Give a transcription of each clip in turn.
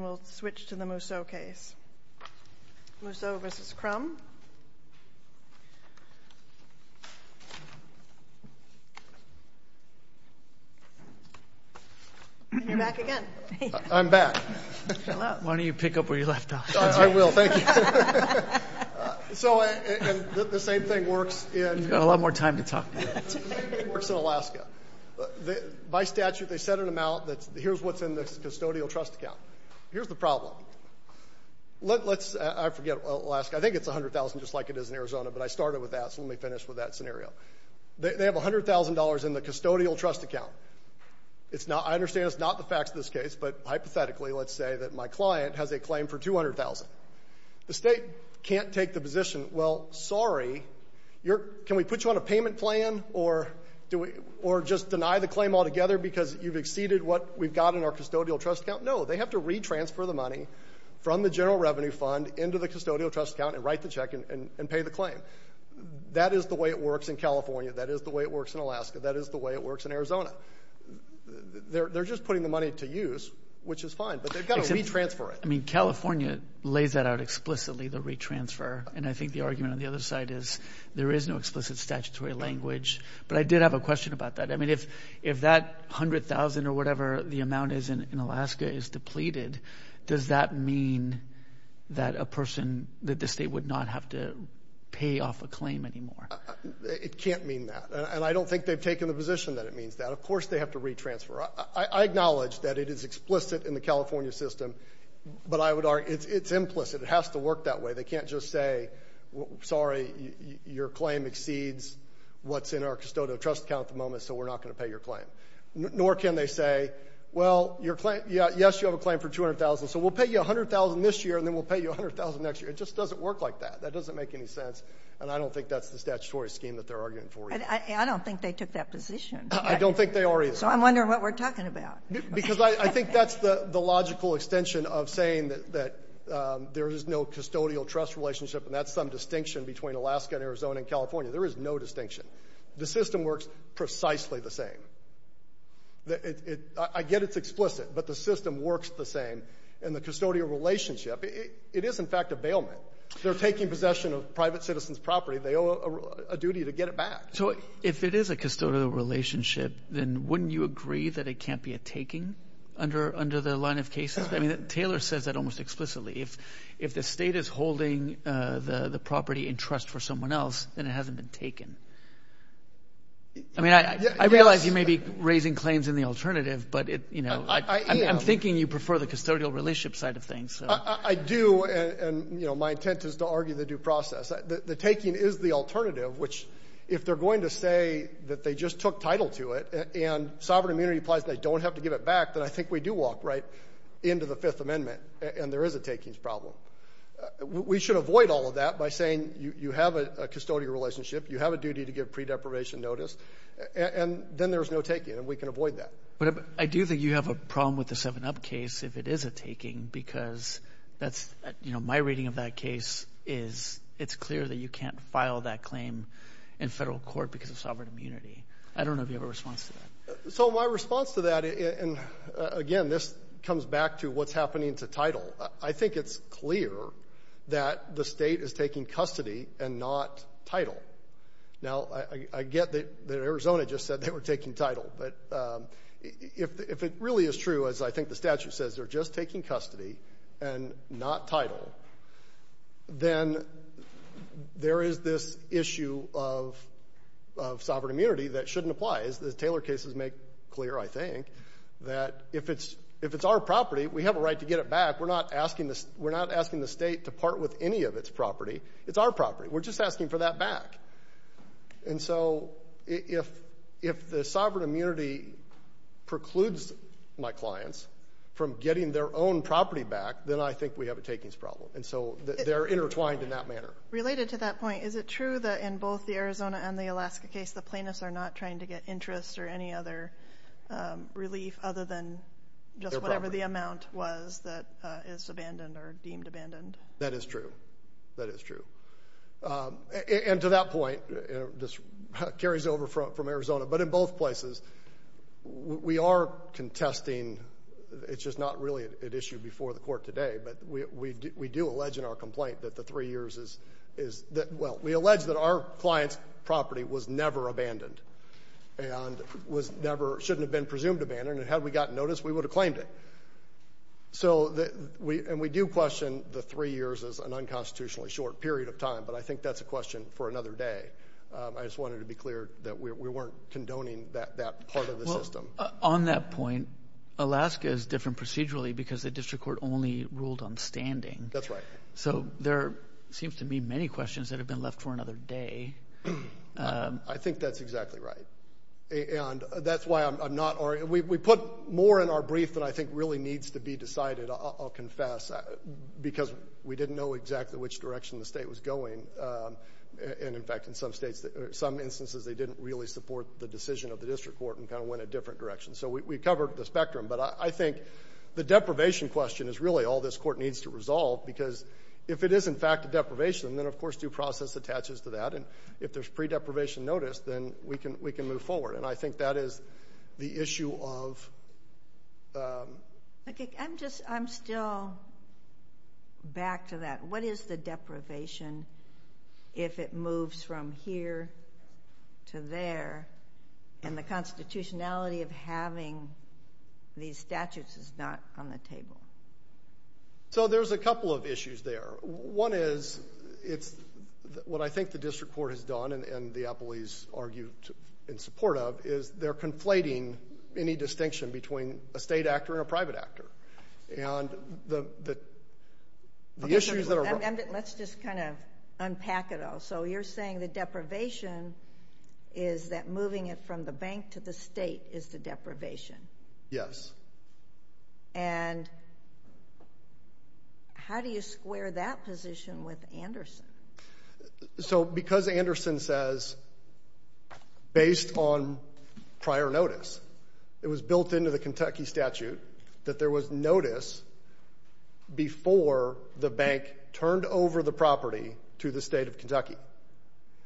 Mousseau v. Crum. And you're back again. I'm back. Why don't you pick up where you left off? I will. Thank you. You've got a lot more time to talk. The state can't take the position, well, sorry, can we put you on a payment plan or just deny the claim altogether because you've exceeded what we've got in our custodial trust account? No, they have to retransfer the money from the general revenue fund into the custodial trust account and write the check and pay the claim. That is the way it works in California. That is the way it works in Alaska. That is the way it works in Arizona. They're just putting the money to use, which is fine, but they've got to retransfer it. I mean, California lays that out explicitly, the retransfer. And I think the argument on the other side is there is no explicit statutory language. But I did have a question about that. I mean, if that $100,000 or whatever the amount is in Alaska is depleted, does that mean that a person, that the state would not have to pay off a claim anymore? It can't mean that. And I don't think they've taken the position that it means that. Of course they have to retransfer. I acknowledge that it is explicit in the California system, but I would argue it's implicit. It has to work that way. They can't just say, sorry, your claim exceeds what's in our custodial trust account at the moment, so we're not going to pay your claim. Nor can they say, well, yes, you have a claim for $200,000, so we'll pay you $100,000 this year and then we'll pay you $100,000 next year. It just doesn't work like that. That doesn't make any sense. And I don't think that's the statutory scheme that they're arguing for. I don't think they took that position. I don't think they already have. So I'm wondering what we're talking about. Because I think that's the logical extension of saying that there is no custodial trust relationship, and that's some distinction between Alaska and Arizona and California. There is no distinction. The system works precisely the same. I get it's explicit, but the system works the same. And the custodial relationship, it is, in fact, a bailment. They're taking possession of private citizens' property. They owe a duty to get it back. So if it is a custodial relationship, then wouldn't you agree that it can't be a taking under the line of cases? I mean, Taylor says that almost explicitly. If the state is holding the property in trust for someone else, then it hasn't been taken. I mean, I realize you may be raising claims in the alternative, but, you know, I'm thinking you prefer the custodial relationship side of things. I do, and, you know, my intent is to argue the due process. The taking is the alternative, which if they're going to say that they just took title to it and sovereign immunity applies and they don't have to give it back, then I think we do walk right into the Fifth Amendment, and there is a takings problem. We should avoid all of that by saying you have a custodial relationship, you have a duty to give pre-deprivation notice, and then there's no taking, and we can avoid that. But I do think you have a problem with the 7-Up case if it is a taking because that's, you know, my reading of that case is it's clear that you can't file that claim in federal court because of sovereign immunity. I don't know if you have a response to that. So my response to that, and, again, this comes back to what's happening to title. I think it's clear that the state is taking custody and not title. Now, I get that Arizona just said they were taking title, but if it really is true, as I think the statute says, they're just taking custody and not title, then there is this issue of sovereign immunity that shouldn't apply. As the Taylor cases make clear, I think, that if it's our property, we have a right to get it back. We're not asking the state to part with any of its property. It's our property. We're just asking for that back. And so if the sovereign immunity precludes my clients from getting their own property back, then I think we have a takings problem. And so they're intertwined in that manner. Related to that point, is it true that in both the Arizona and the Alaska case, the plaintiffs are not trying to get interest or any other relief other than just whatever the amount was that is abandoned or deemed abandoned? That is true. That is true. And to that point, this carries over from Arizona, but in both places, we are contesting. It's just not really an issue before the court today, but we do allege in our complaint that the three years is – well, we allege that our client's property was never abandoned and was never – shouldn't have been presumed abandoned, and had we gotten notice, we would have claimed it. So – and we do question the three years as an unconstitutionally short period of time, but I think that's a question for another day. I just wanted to be clear that we weren't condoning that part of the system. Well, on that point, Alaska is different procedurally because the district court only ruled on standing. That's right. So there seems to be many questions that have been left for another day. I think that's exactly right. And that's why I'm not – we put more in our brief than I think really needs to be decided, I'll confess, because we didn't know exactly which direction the state was going. And, in fact, in some states – some instances, they didn't really support the decision of the district court and kind of went a different direction. So we covered the spectrum. But I think the deprivation question is really all this court needs to resolve because if it is, in fact, a deprivation, then, of course, due process attaches to that. And if there's pre-deprivation notice, then we can move forward. And I think that is the issue of – I'm just – I'm still back to that. What is the deprivation if it moves from here to there and the constitutionality of having these statutes is not on the table? So there's a couple of issues there. One is it's – what I think the district court has done and the appellees argue in support of is they're conflating any distinction between a state actor and a private actor. And the issues that are – Let's just kind of unpack it all. So you're saying the deprivation is that moving it from the bank to the state is the deprivation. Yes. And how do you square that position with Anderson? So because Anderson says based on prior notice, it was built into the Kentucky statute that there was notice before the bank turned over the property to the state of Kentucky.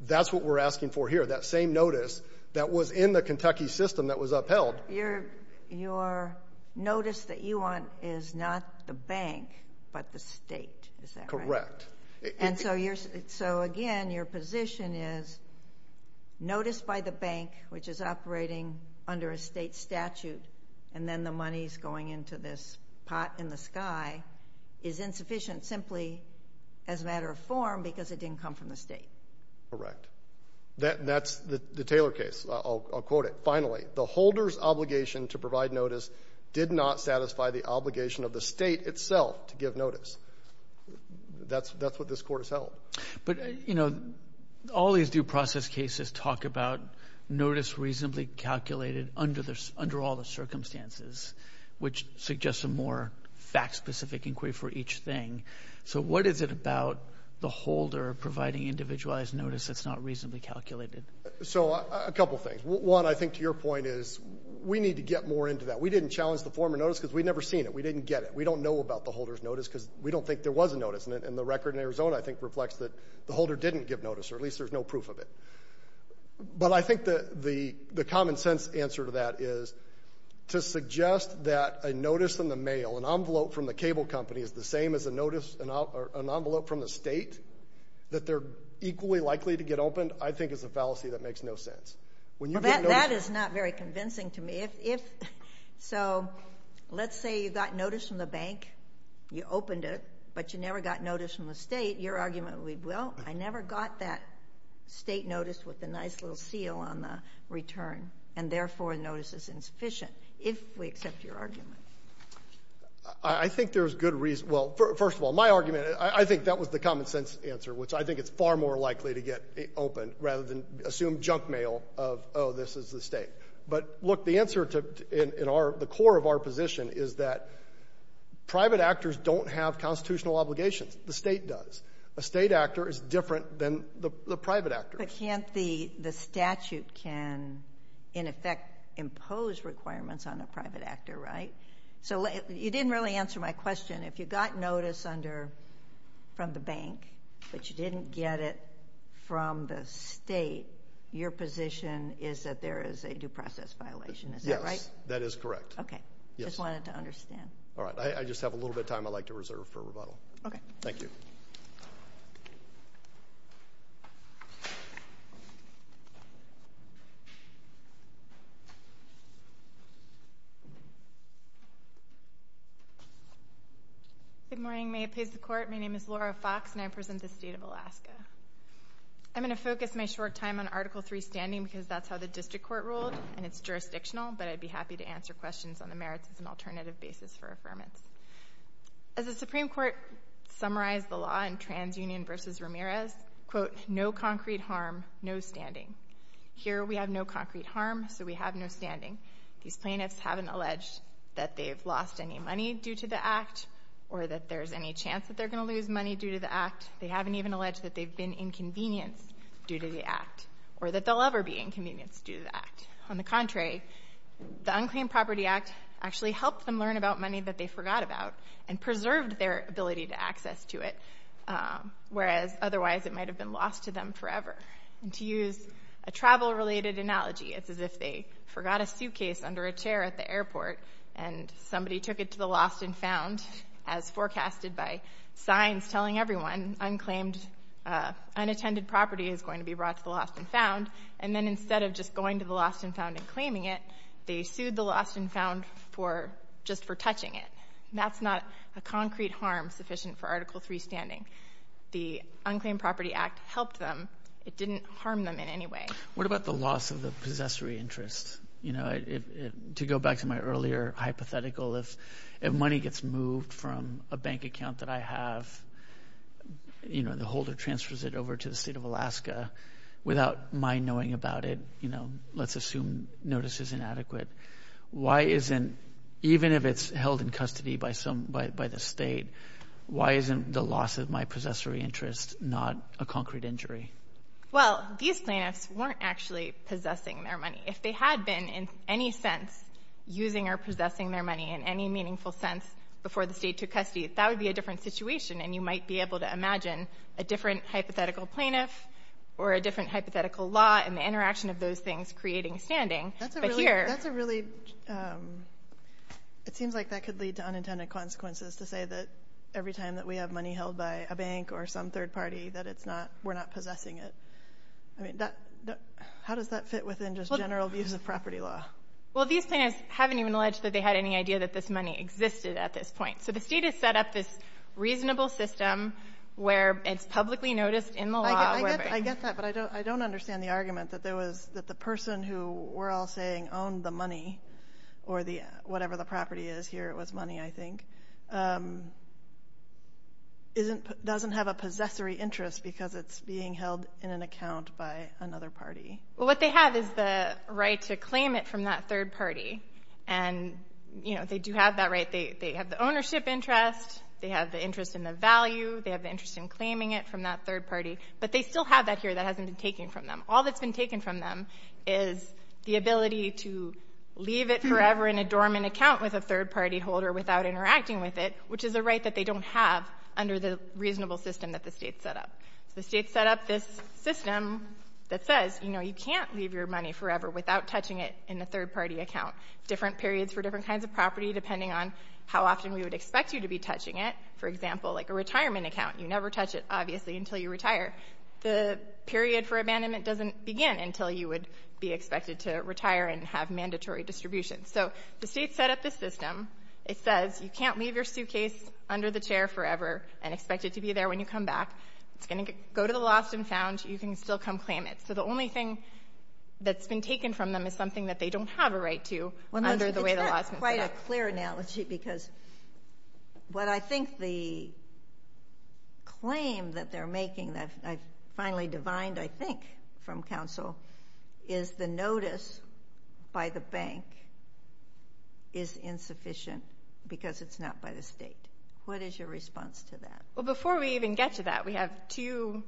That's what we're asking for here, that same notice that was in the Kentucky system that was upheld. Your notice that you want is not the bank but the state. Is that right? And so, again, your position is notice by the bank, which is operating under a state statute, and then the money is going into this pot in the sky, is insufficient simply as a matter of form because it didn't come from the state. Correct. And that's the Taylor case. I'll quote it. Finally, the holder's obligation to provide notice did not satisfy the obligation of the state itself to give notice. That's what this Court has held. But, you know, all these due process cases talk about notice reasonably calculated under all the circumstances, which suggests a more fact-specific inquiry for each thing. So what is it about the holder providing individualized notice that's not reasonably calculated? So a couple things. One, I think, to your point is we need to get more into that. We didn't challenge the former notice because we'd never seen it. We didn't get it. We don't know about the holder's notice because we don't think there was a notice, and the record in Arizona, I think, reflects that the holder didn't give notice, or at least there's no proof of it. But I think the common-sense answer to that is to suggest that a notice in the mail, an envelope from the cable company is the same as a notice, an envelope from the state, that they're equally likely to get opened, I think is a fallacy that makes no sense. That is not very convincing to me. If so, let's say you got notice from the bank, you opened it, but you never got notice from the state, your argument would be, well, I never got that state notice with the nice little seal on the return, and therefore the notice is insufficient, if we accept your argument. I think there's good reason. Well, first of all, my argument, I think that was the common-sense answer, which I think it's far more likely to get opened rather than assume junk mail of, oh, this is the state. But, look, the answer to the core of our position is that private actors don't have constitutional obligations. The state does. A state actor is different than the private actor. But can't the statute can, in effect, impose requirements on a private actor, right? So you didn't really answer my question. If you got notice from the bank but you didn't get it from the state, your position is that there is a due process violation. Is that right? Yes, that is correct. Okay. Just wanted to understand. All right. I just have a little bit of time I'd like to reserve for rebuttal. Okay. Thank you. Good morning. May it please the Court. My name is Laura Fox, and I represent the state of Alaska. I'm going to focus my short time on Article III standing because that's how the district court ruled, and it's jurisdictional, but I'd be happy to answer questions on the merits as an alternative basis for affirmance. As the Supreme Court summarized the law in TransUnion v. Ramirez, quote, no concrete harm, no standing. Here we have no concrete harm, so we have no standing. These plaintiffs haven't alleged that they've lost any money due to the act or that there's any chance that they're going to lose money due to the act. They haven't even alleged that they've been inconvenienced due to the act or that they'll ever be inconvenienced due to the act. On the contrary, the Unclaimed Property Act actually helped them learn about money that they forgot about and preserved their ability to access to it, whereas otherwise it might have been lost to them forever. And to use a travel-related analogy, it's as if they forgot a suitcase under a chair at the airport and somebody took it to the lost and found, as forecasted by signs telling everyone unattended property is going to be brought to the lost and found, and then instead of just going to the lost and found and claiming it, they sued the lost and found just for touching it. That's not a concrete harm sufficient for Article III standing. The Unclaimed Property Act helped them. It didn't harm them in any way. What about the loss of the possessory interest? To go back to my earlier hypothetical, if money gets moved from a bank account that I have, the holder transfers it over to the state of Alaska without my knowing about it, let's assume notice is inadequate, why isn't, even if it's held in custody by the state, why isn't the loss of my possessory interest not a concrete injury? Well, these plaintiffs weren't actually possessing their money. If they had been in any sense using or possessing their money in any meaningful sense before the state took custody, that would be a different situation, and you might be able to imagine a different hypothetical plaintiff or a different hypothetical law and the interaction of those things creating standing. That's a really, it seems like that could lead to unintended consequences to say that every time that we have money held by a bank or some third party that we're not possessing it. I mean, how does that fit within just general views of property law? Well, these plaintiffs haven't even alleged that they had any idea that this money existed at this point. So the state has set up this reasonable system where it's publicly noticed in the law. I get that, but I don't understand the argument that there was, that the person who we're all saying owned the money or whatever the property is here, it was money, I think, doesn't have a possessory interest because it's being held in an account by another party. Well, what they have is the right to claim it from that third party, and they do have that right. They have the ownership interest. They have the interest in the value. They have the interest in claiming it from that third party, but they still have that here that hasn't been taken from them. All that's been taken from them is the ability to leave it forever in a dormant account with a third-party holder without interacting with it, which is a right that they don't have under the reasonable system that the state set up. So the state set up this system that says, you know, you can't leave your money forever without touching it in a third-party account. Different periods for different kinds of property, depending on how often we would expect you to be touching it. For example, like a retirement account, you never touch it, obviously, until you retire. The period for abandonment doesn't begin until you would be expected to retire and have mandatory distribution. So the state set up this system. It says you can't leave your suitcase under the chair forever and expect it to be there when you come back. It's going to go to the lost and found. You can still come claim it. So the only thing that's been taken from them is something that they don't have a right to under the way the law's been set up. Let me give you a clear analogy, because what I think the claim that they're making, that I finally divined, I think, from counsel, is the notice by the bank is insufficient because it's not by the state. What is your response to that? Well, before we even get to that, we have two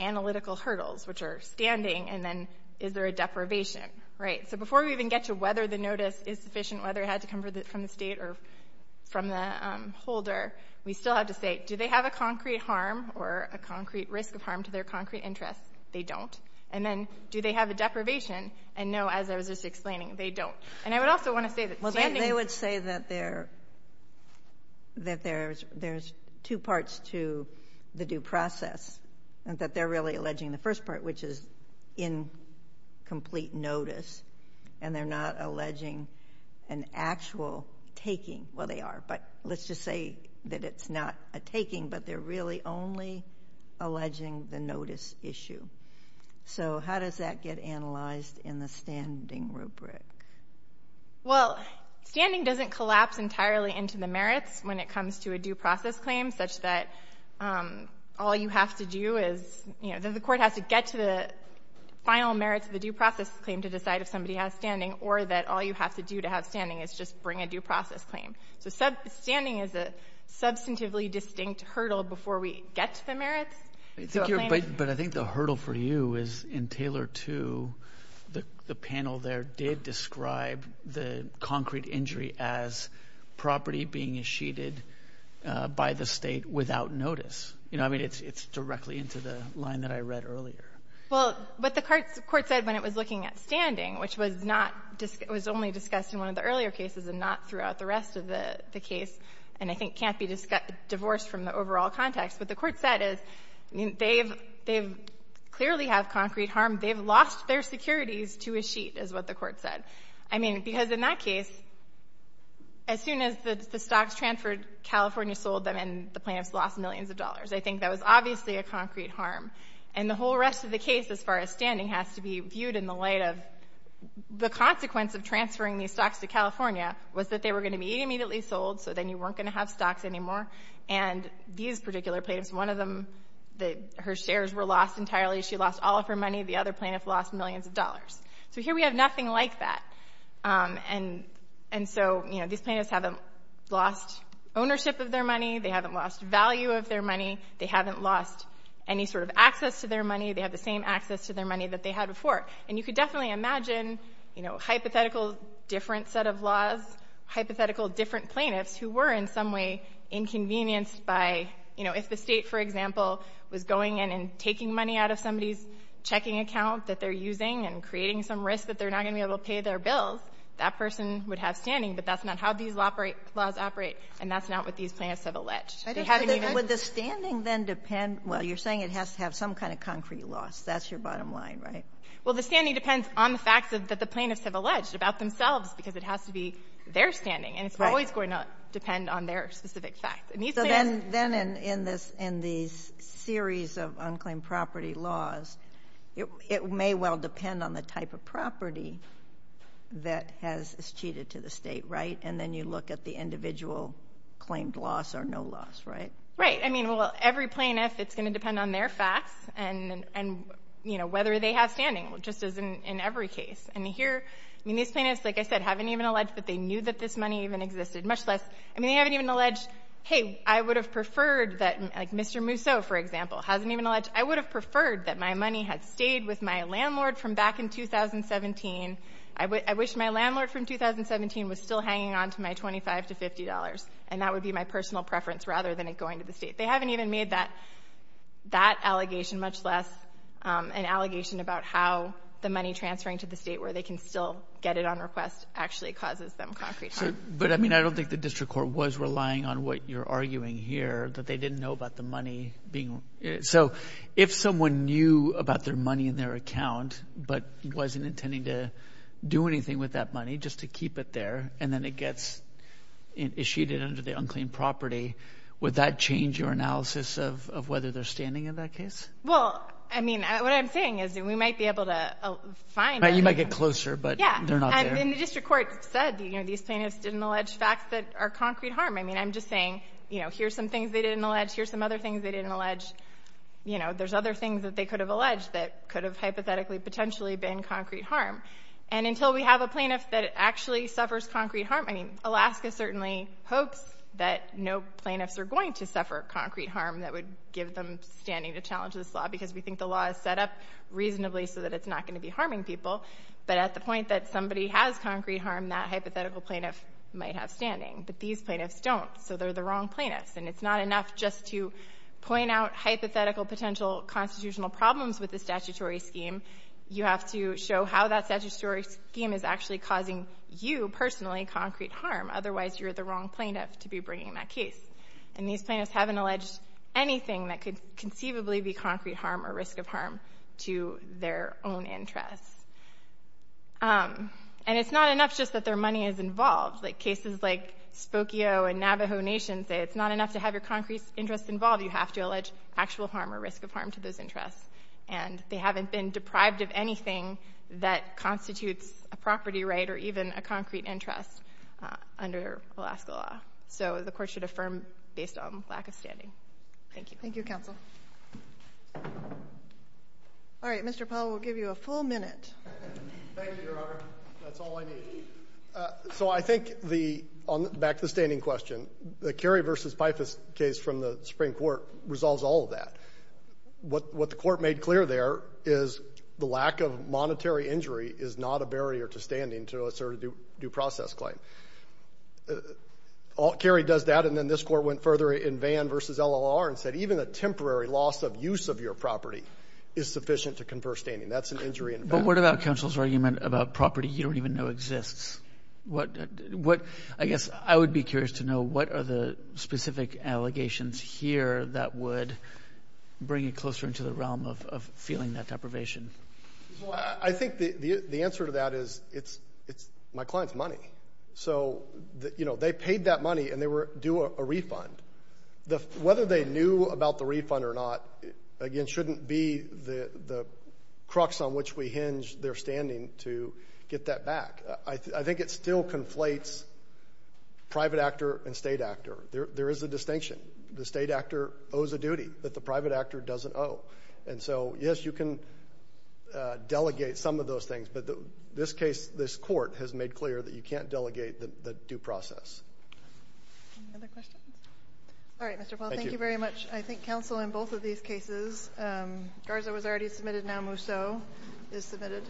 analytical hurdles, which are standing and then is there a deprivation, right? So before we even get to whether the notice is sufficient, whether it had to come from the state or from the holder, we still have to say, do they have a concrete harm or a concrete risk of harm to their concrete interest? They don't. And then, do they have a deprivation? And no, as I was just explaining, they don't. And I would also want to say that standing— Well, they would say that there's two parts to the due process, and that they're really alleging the first part, which is incomplete notice, and they're not alleging an actual taking. Well, they are, but let's just say that it's not a taking, but they're really only alleging the notice issue. So how does that get analyzed in the standing rubric? Well, standing doesn't collapse entirely into the merits when it comes to a due process claim, such that all you have to do is— you know, the court has to get to the final merits of the due process claim to decide if somebody has standing, or that all you have to do to have standing is just bring a due process claim. So standing is a substantively distinct hurdle before we get to the merits. But I think the hurdle for you is in Taylor 2, the panel there did describe the concrete injury as property being eschated by the State without notice. You know, I mean, it's directly into the line that I read earlier. Well, what the court said when it was looking at standing, which was not — it was only discussed in one of the earlier cases and not throughout the rest of the case and I think can't be divorced from the overall context. What the court said is they've — they clearly have concrete harm. They've lost their securities to a sheet, is what the court said. I mean, because in that case, as soon as the stocks transferred, California sold them and the plaintiffs lost millions of dollars. I think that was obviously a concrete harm. And the whole rest of the case as far as standing has to be viewed in the light of the consequence of transferring these stocks to California was that they were going to be immediately sold, so then you weren't going to have stocks anymore. And these particular plaintiffs, one of them, her shares were lost entirely. She lost all of her money. The other plaintiff lost millions of dollars. So here we have nothing like that. And so, you know, these plaintiffs haven't lost ownership of their money. They haven't lost value of their money. They haven't lost any sort of access to their money. They have the same access to their money that they had before. And you could definitely imagine, you know, hypothetical different set of laws, hypothetical different plaintiffs who were in some way inconvenienced by, you know, if the State, for example, was going in and taking money out of somebody's checking account that they're using and creating some risk that they're not going to be able to pay their bills, that person would have standing, but that's not how these laws operate, and that's not what these plaintiffs have alleged. They haven't even been able to pay their bills. Sotomayor, you're saying it has to have some kind of concrete loss. That's your bottom line, right? Well, the standing depends on the facts that the plaintiffs have alleged about themselves because it has to be their standing. And it's always going to depend on their specific facts. So then in these series of unclaimed property laws, it may well depend on the type of property that has cheated to the State, right? And then you look at the individual claimed loss or no loss, right? Right. I mean, well, every plaintiff, it's going to depend on their facts and, you know, whether they have standing, just as in every case. And here, I mean, these plaintiffs, like I said, haven't even alleged that they knew that this money even existed, much less, I mean, they haven't even alleged, hey, I would have preferred that, like Mr. Musso, for example, hasn't even alleged I would have preferred that my money had stayed with my landlord from back in 2017. I wish my landlord from 2017 was still hanging on to my $25 to $50, and that would be my personal preference rather than it going to the State. They haven't even made that allegation, much less an allegation about how the money transferring to the State, where they can still get it on request, actually causes them concrete harm. But, I mean, I don't think the district court was relying on what you're arguing here, that they didn't know about the money being. So if someone knew about their money in their account but wasn't intending to do anything with that money, just to keep it there, and then it gets issued under the unclean property, would that change your analysis of whether they're standing in that case? Well, I mean, what I'm saying is that we might be able to find. You might get closer, but they're not there. And the district court said, you know, these plaintiffs didn't allege facts that are concrete harm. I mean, I'm just saying, you know, here's some things they didn't allege. Here's some other things they didn't allege. You know, there's other things that they could have alleged that could have hypothetically potentially been concrete harm. And until we have a plaintiff that actually suffers concrete harm, I mean, Alaska certainly hopes that no plaintiffs are going to suffer concrete harm that would give them standing to challenge this law, because we think the law is set up reasonably so that it's not going to be harming people. But at the point that somebody has concrete harm, that hypothetical plaintiff might have standing. But these plaintiffs don't, so they're the wrong plaintiffs. And it's not enough just to point out hypothetical potential constitutional problems with the statutory scheme. You have to show how that statutory scheme is actually causing you personally concrete harm. Otherwise, you're the wrong plaintiff to be bringing that case. And these plaintiffs haven't alleged anything that could conceivably be concrete harm or risk of harm to their own interests. And it's not enough just that their money is involved. Like, cases like Spokio and Navajo Nation say it's not enough to have your concrete interests involved. You have to allege actual harm or risk of harm to those interests. And they haven't been deprived of anything that constitutes a property right or even a concrete interest under Alaska law. So the Court should affirm based on lack of standing. Thank you. Thank you, counsel. All right. Mr. Paul, we'll give you a full minute. Thank you, Your Honor. That's all I need. So I think the – back to the standing question. The Carey v. Pifus case from the Supreme Court resolves all of that. What the Court made clear there is the lack of monetary injury is not a barrier to standing to assert a due process claim. Carey does that, and then this Court went further in Vann v. LLR and said even a temporary loss of use of your property is sufficient to confer standing. That's an injury in Vann. But what about counsel's argument about property you don't even know exists? I guess I would be curious to know what are the specific allegations here that would bring it closer into the realm of feeling that deprivation. I think the answer to that is it's my client's money. So, you know, they paid that money and they were due a refund. Whether they knew about the refund or not, again, shouldn't be the crux on which we hinge their standing to get that back. I think it still conflates private actor and state actor. There is a distinction. The state actor owes a duty that the private actor doesn't owe. And so, yes, you can delegate some of those things, but this case, this Court has made clear that you can't delegate the due process. Any other questions? All right, Mr. Paul. Thank you. Thank you very much. I think counsel in both of these cases, Garza was already submitted. Now Musso is submitted.